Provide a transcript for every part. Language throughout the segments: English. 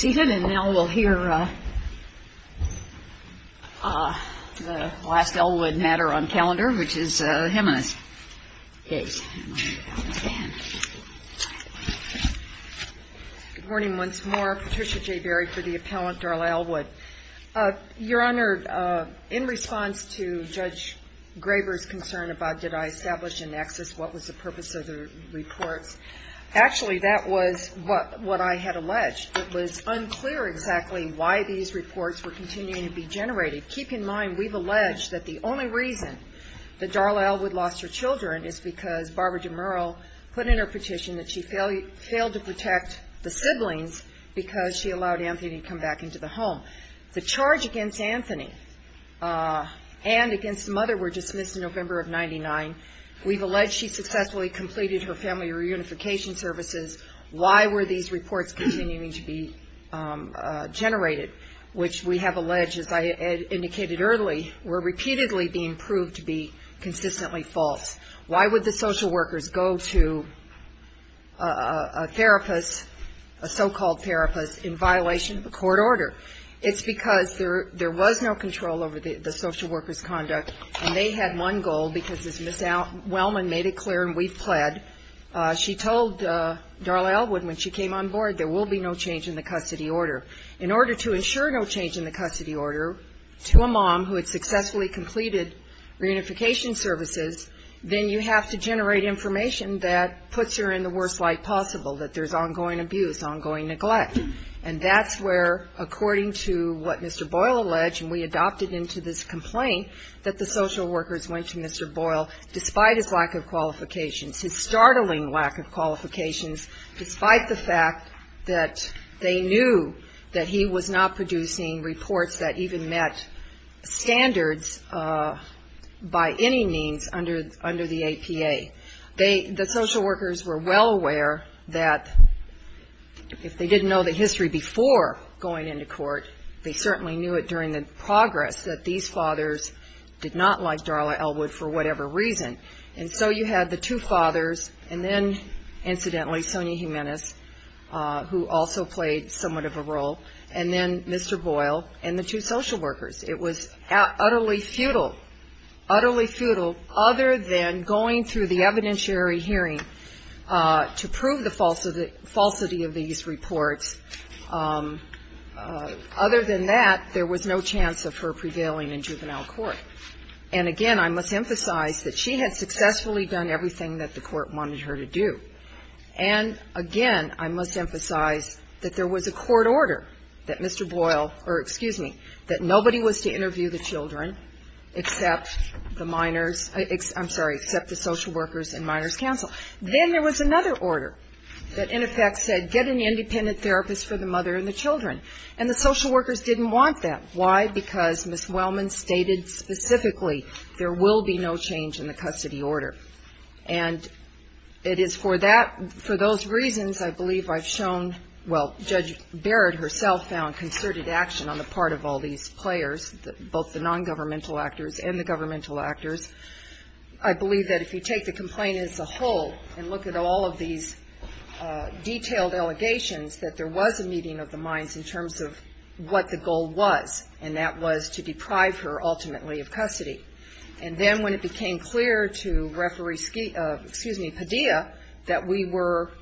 Good morning once more. Patricia J. Berry for the Appellant Darla Elwood. Your Honor, in response to Judge Graber's concern about did I establish a nexus, what was the purpose of the reports? Actually, that was what I had alleged. It was unclear exactly why these reports were continuing to be generated. Keep in mind, we've alleged that the only reason that Darla Elwood lost her children is because Barbara DeMerle put in her petition that she failed to protect the siblings because she allowed Anthony to come back into the home. The charge against Anthony and against the mother were dismissed in November of 1999. We've alleged she successfully completed her family reunification services. Why were these reports continuing to be generated? Which we have alleged, as I indicated early, were repeatedly being proved to be consistently false. Why would the social workers go to a therapist, a so-called therapist, in violation of a court order? It's because there was no control over the social workers' conduct, and they had one goal, because as Ms. Wellman made it clear, and we've pled, she told Darla Elwood when she came on board, there will be no change in the custody order. In order to ensure no change in the custody order to a mom who had successfully completed reunification services, then you have to generate information that puts her in the worst light possible, that there's ongoing abuse, ongoing neglect. And that's where, according to what Mr. Boyle alleged, and we adopted into this complaint, that the social workers went to Mr. Boyle, despite his lack of qualifications, his startling lack of qualifications, despite the fact that they knew that he was not producing reports that even met standards by any means under the APA. The social workers were well aware that if they didn't know the history before going into court, they certainly knew it during the progress that these fathers did not like Darla Elwood for whatever reason. And so you had the two fathers, and then, incidentally, Sonia Jimenez, who also played somewhat of a role, and then Mr. Boyle and the two social workers. It was utterly futile, utterly futile, other than going through the evidentiary hearing to prove the falsity of these reports. Other than that, there was no chance of her prevailing in juvenile court. And, again, I must emphasize that she had successfully done everything that the court wanted her to do. And, again, I must emphasize that there was a court order that Mr. Boyle or, excuse me, that nobody was to interview the children except the minors, I'm sorry, except the social workers and minors counsel. Then there was another order that, in effect, said get an independent therapist for the mother and the children. And the social workers didn't want that. Why? Because Ms. Wellman stated specifically there will be no change in the custody order. And it is for that, for those reasons, I believe, I've shown, well, Judge Barrett herself found concerted action on the part of all these players, both the nongovernmental actors and the governmental actors. I believe that if you take the complaint as a whole and look at all of these detailed allegations, that there was a meeting of the minds in terms of what the goal was, and that was to deprive her ultimately of custody. And then when it became clear to Referee Skiba, excuse me, Padilla, that we were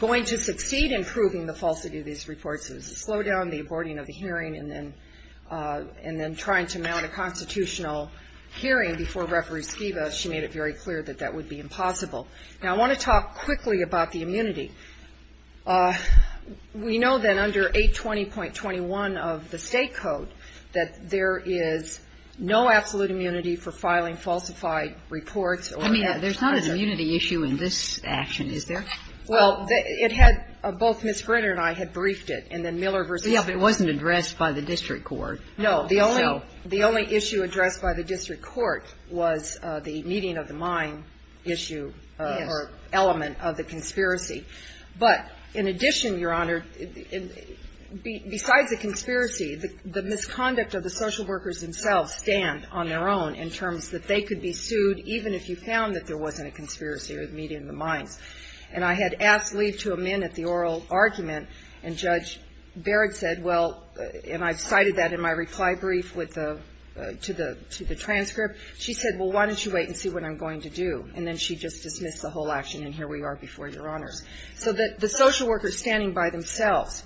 going to succeed in proving the falsity of these reports, it was a slowdown, the aborting of the hearing, and then trying to mount a constitutional hearing before Referee Skiba. She made it very clear that that would be impossible. Now I want to talk quickly about the immunity. We know that under 820.21 of the state code that there is no absolute immunity for filing falsified reports or actions. I mean, there's not an immunity issue in this action, is there? Well, it had – both Ms. Grinner and I had briefed it, and then Miller v. — Yeah, but it wasn't addressed by the district court. No. So — The only issue addressed by the district court was the meeting of the mind issue or element of the conspiracy. But in addition, Your Honor, besides the conspiracy, the misconduct of the social workers themselves stand on their own in terms that they could be sued even if you found that there wasn't a conspiracy or the meeting of the minds. And I had asked leave to amend at the oral argument, and Judge Barrett said, well, and I've cited that in my reply brief with the – to the transcript. She said, well, why don't you wait and see what I'm going to do. And then she just dismissed the whole action, and here we are before Your Honors. So that the social workers standing by themselves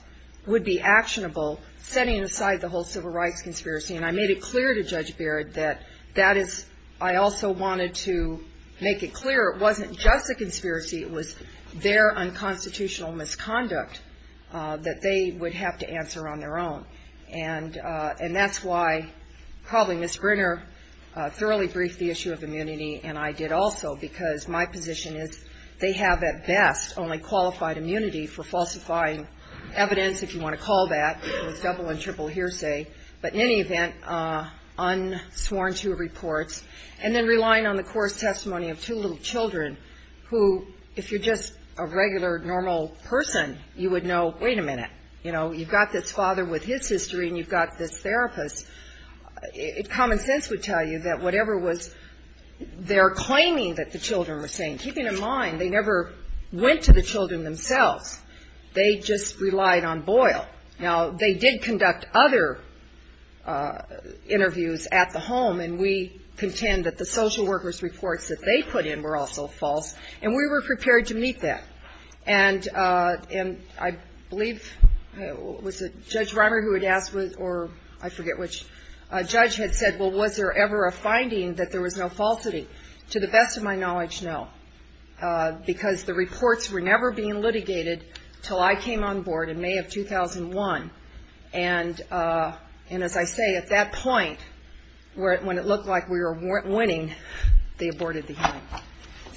would be actionable setting aside the whole civil rights conspiracy. And I made it clear to Judge Barrett that that is – I also wanted to make it clear it wasn't just a conspiracy. It was their unconstitutional misconduct that they would have to answer on their own. And that's why probably Ms. Grinner thoroughly the issue of immunity, and I did also, because my position is they have at best only qualified immunity for falsifying evidence, if you want to call that. It was double and triple hearsay. But in any event, unsworn to reports. And then relying on the course testimony of two little children who, if you're just a regular, normal person, you would know, wait a minute. You know, you've got this father with his history, and you've got this therapist. Common sense would tell you that whatever was their claiming that the children were saying, keeping in mind they never went to the children themselves, they just relied on Boyle. Now, they did conduct other interviews at the home, and we contend that the social workers' reports that they put in were also false. And we were prepared to meet that. And I believe, was it Judge Reimer who had asked, or I forget which, a judge had said, well, was there ever a finding that there was no falsity? To the best of my knowledge, no. Because the reports were never being litigated until I came on board in May of 2001. And as I say, at that point, when it looked like we were winning, they aborted the hearing.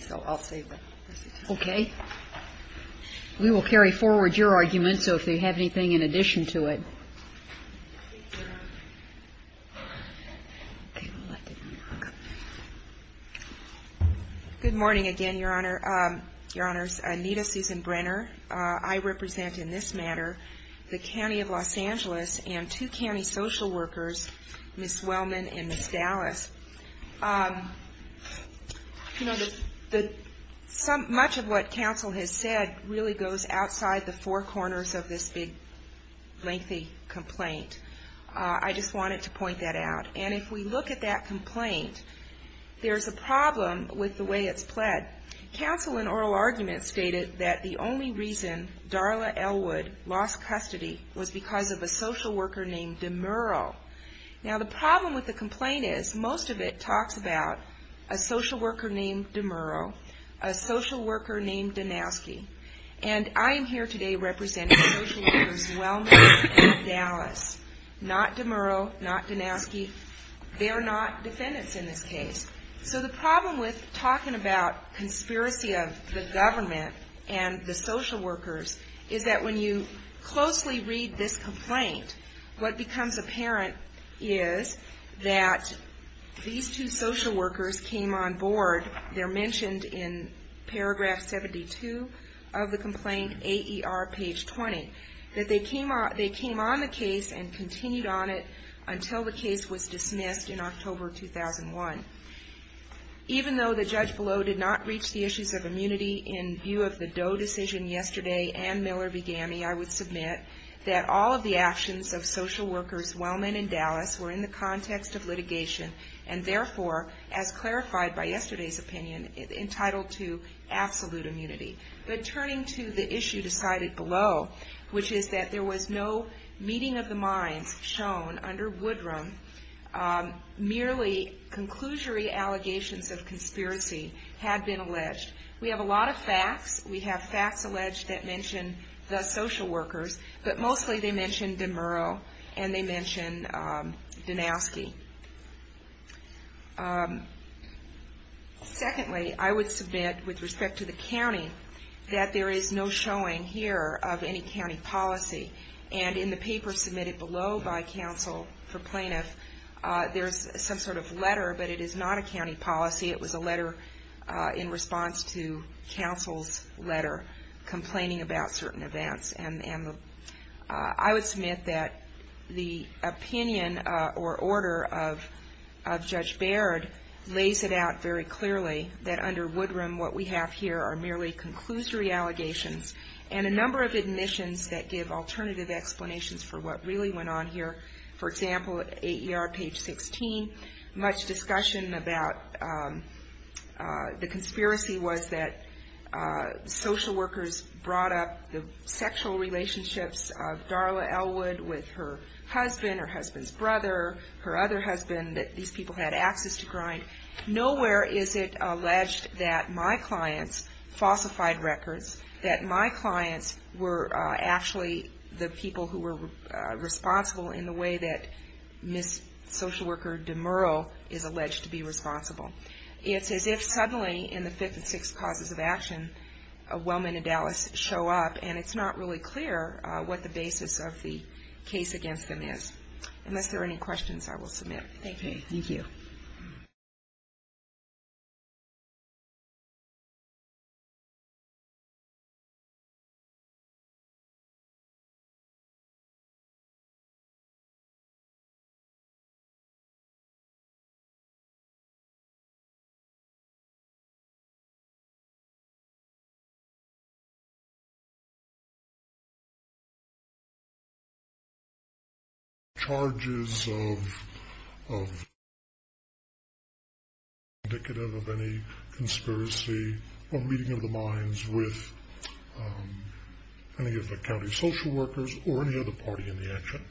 So I'll say what I said. Okay. We will carry forward your argument, so if you have anything in addition to it. Okay. We'll let the judge talk. Good morning again, Your Honor. Your Honors, Anita Susan Brenner. I represent in this matter the County of Los Angeles and two county social workers, Ms. Wellman and Ms. Dallas. You know, much of what counsel has said really goes outside the four corners of this big lengthy complaint. I just wanted to point that out. And if we look at that complaint, there's a problem with the way it's pled. Counsel in oral argument stated that the only reason Darla Elwood lost custody was because of a social worker named DeMuro. Now the problem with the complaint is most of it talks about a social worker named DeMuro, a social worker named Danowski. And I am here today representing social workers Wellman and Dallas, not DeMuro, not Danowski. They are not defendants in this case. So the problem with talking about conspiracy of the government and the social workers is that when you closely read this complaint, what becomes apparent is that these two social workers came on board. They're mentioned in paragraph 72 of the complaint, AER page 20, that they came on the case and continued on it until the case was dismissed in October 2001. Even though the judge below did not reach the issues of immunity in view of the Doe decision yesterday and Miller v. Gammey, I would submit, that all of the actions of social workers Wellman and Dallas were in the context of litigation and therefore, as clarified by yesterday's opinion, entitled to absolute immunity. But turning to the issue decided below, which is that there was no meeting of the minds shown under Woodrum, merely conclusory allegations of conspiracy had been alleged. We have a lot of facts. We have facts alleged that mention the social workers, but mostly they mention DeMuro and they mention Danowski. Secondly, I would submit with respect to the county that there is no showing here of any county policy. And in the paper submitted below by counsel for plaintiff, there's some sort of letter, but it is not a county policy. It was a letter in response to counsel's letter complaining about certain events. And I would submit that the opinion or order of Judge Baird lays it out very clearly that under Woodrum, what we have here are merely conclusory allegations and a number of admissions that give alternative explanations for what really went on here. For example, at AER page 16, much discussion about the conspiracy was that social workers brought up the sexual relationships of Darla Elwood with her husband or husband's brother, her other husband, that these people had access to grind. Nowhere is it alleged that my clients falsified records, that my clients were actually the people who were responsible in the way that Ms. Social Worker DeMuro is alleged to be responsible. It's as if suddenly in the fifth and sixth causes of action, a woman in Dallas show up and it's not really clear what the basis of the case against them is. Unless there are any questions, I will submit. Thank you. ...charges of...indicative of any conspiracy or reading of the minds with any of the county social workers or any other party in the action.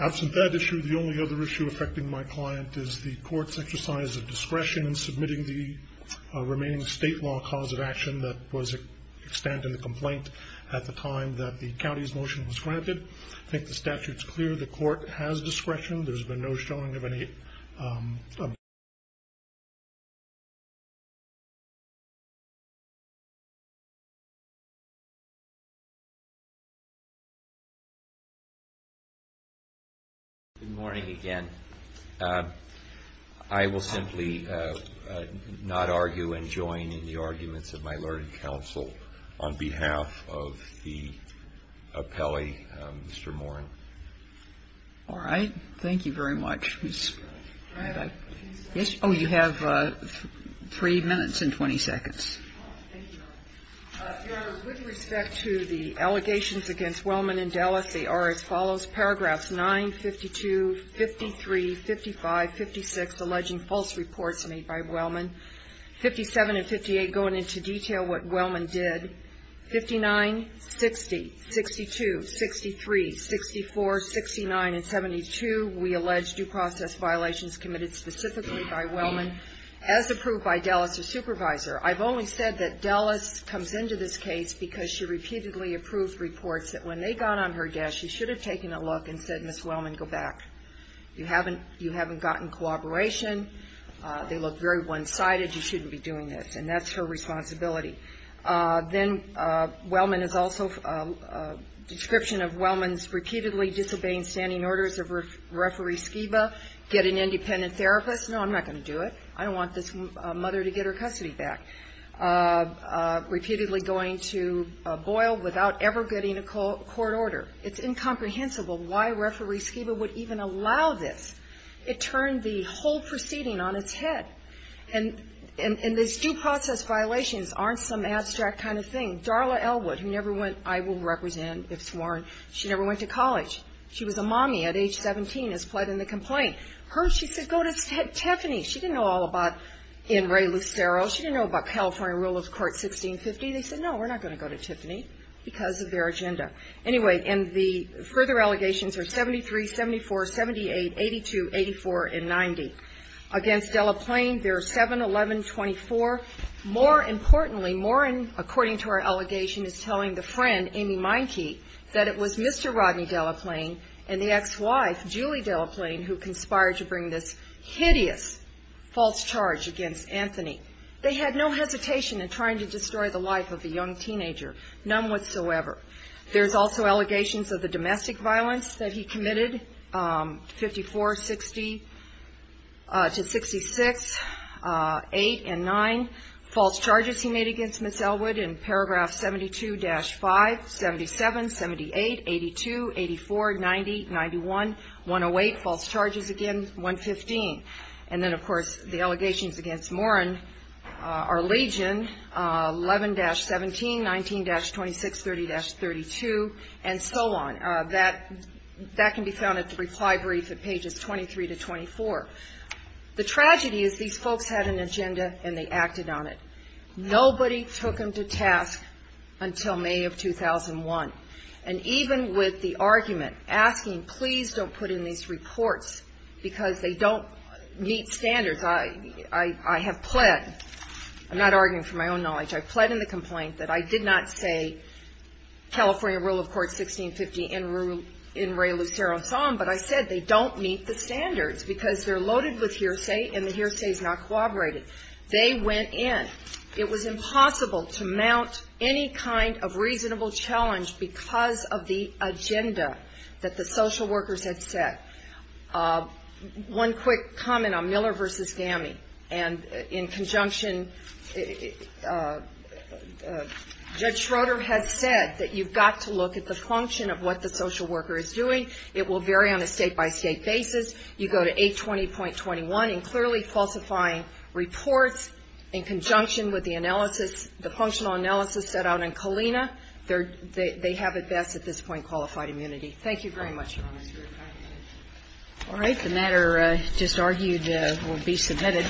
Absent that issue, the only other issue affecting my client is the court's exercise of discretion in submitting the remaining state law cause of action that was extant in the complaint at the time that the county's motion was granted. I think the statute's clear. The court has discretion. There's been no showing of any... Good morning again. I will simply not argue and join in the arguments of my learned counsel on behalf of the appellee, Mr. Morin. All right. Thank you very much. Can I have a few seconds? Yes. Oh, you have three minutes and 20 seconds. Thank you, Your Honor. Your Honor, with respect to the allegations against Wellman and Dallas, they are as follows. Paragraphs 9, 52, 53, 55, 56, alleging false reports made by Wellman, 57 and 58 going into detail what Wellman did. 59, 60, 62, 63, 64, 69, and 72, we allege due process violations committed specifically by Wellman as approved by Dallas's supervisor. I've only seen the first three. You said that Dallas comes into this case because she repeatedly approved reports that when they got on her desk, she should have taken a look and said, Ms. Wellman, go back. You haven't gotten cooperation. They look very one-sided. You shouldn't be doing this. And that's her responsibility. Then Wellman is also... Description of Wellman's repeatedly disobeying standing orders of Referee Skiba, get an independent therapist. No, I'm not going to do it. I don't want this mother to get her custody back. Repeatedly going to Boyle without ever getting a court order. It's incomprehensible why Referee Skiba would even allow this. It turned the whole proceeding on its head. And these due process violations aren't some abstract kind of thing. Darla Elwood, who never went, I will represent if sworn, she never went to college. She was a mommy at age 17, has pled in the complaint. Hers, she said, go to Tiffany. She didn't know all about Ann Rae Lucero. She didn't know about California Rule of Court 1650. They said, no, we're not going to go to Tiffany because of their agenda. Anyway, and the further allegations are 73, 74, 78, 82, 84, and 90. Against Delaplane, there are 7, 11, 24. More importantly, according to our allegation, is telling the friend, Amy Meinke, that it was Mr. Rodney Delaplane and the ex-wife, Julie Delaplane, who conspired to bring this hideous false charge against Anthony. They had no hesitation in trying to destroy the life of a young teenager, none whatsoever. There's also allegations of the domestic violence that he committed, 54, 60, to 66, 8, and 9. False charges he made against Ms. Elwood in paragraph 72-5, 77, 78, 82, 84, 90, 91, 108. False charges again, 115. And then, of course, the allegations against Moran, our legion, 11-17, 19-26, 30-32, and so on. That can be found at the reply brief at pages 23-24. The tragedy is these folks had an agenda and they acted on it. Nobody took them to task until May of 2001. And even with the argument, asking, please don't put in these reports because they don't meet standards, I have pled, I'm not arguing for my own knowledge, I've pled in the complaint that I did not say California Rule of Court 1650 in Ray Lucero's song, but I said they don't meet the standards because they're loaded with hearsay and the kind of reasonable challenge because of the agenda that the social workers had set. One quick comment on Miller v. GAMI. And in conjunction, Judge Schroeder has said that you've got to look at the function of what the social worker is doing. It will vary on a state-by-state basis. You go to 820.21 in clearly falsifying reports in conjunction with the analysis, the functional analysis set out in Colina, they have at best at this point qualified immunity. Thank you very much. All right. The matter just argued will be submitted.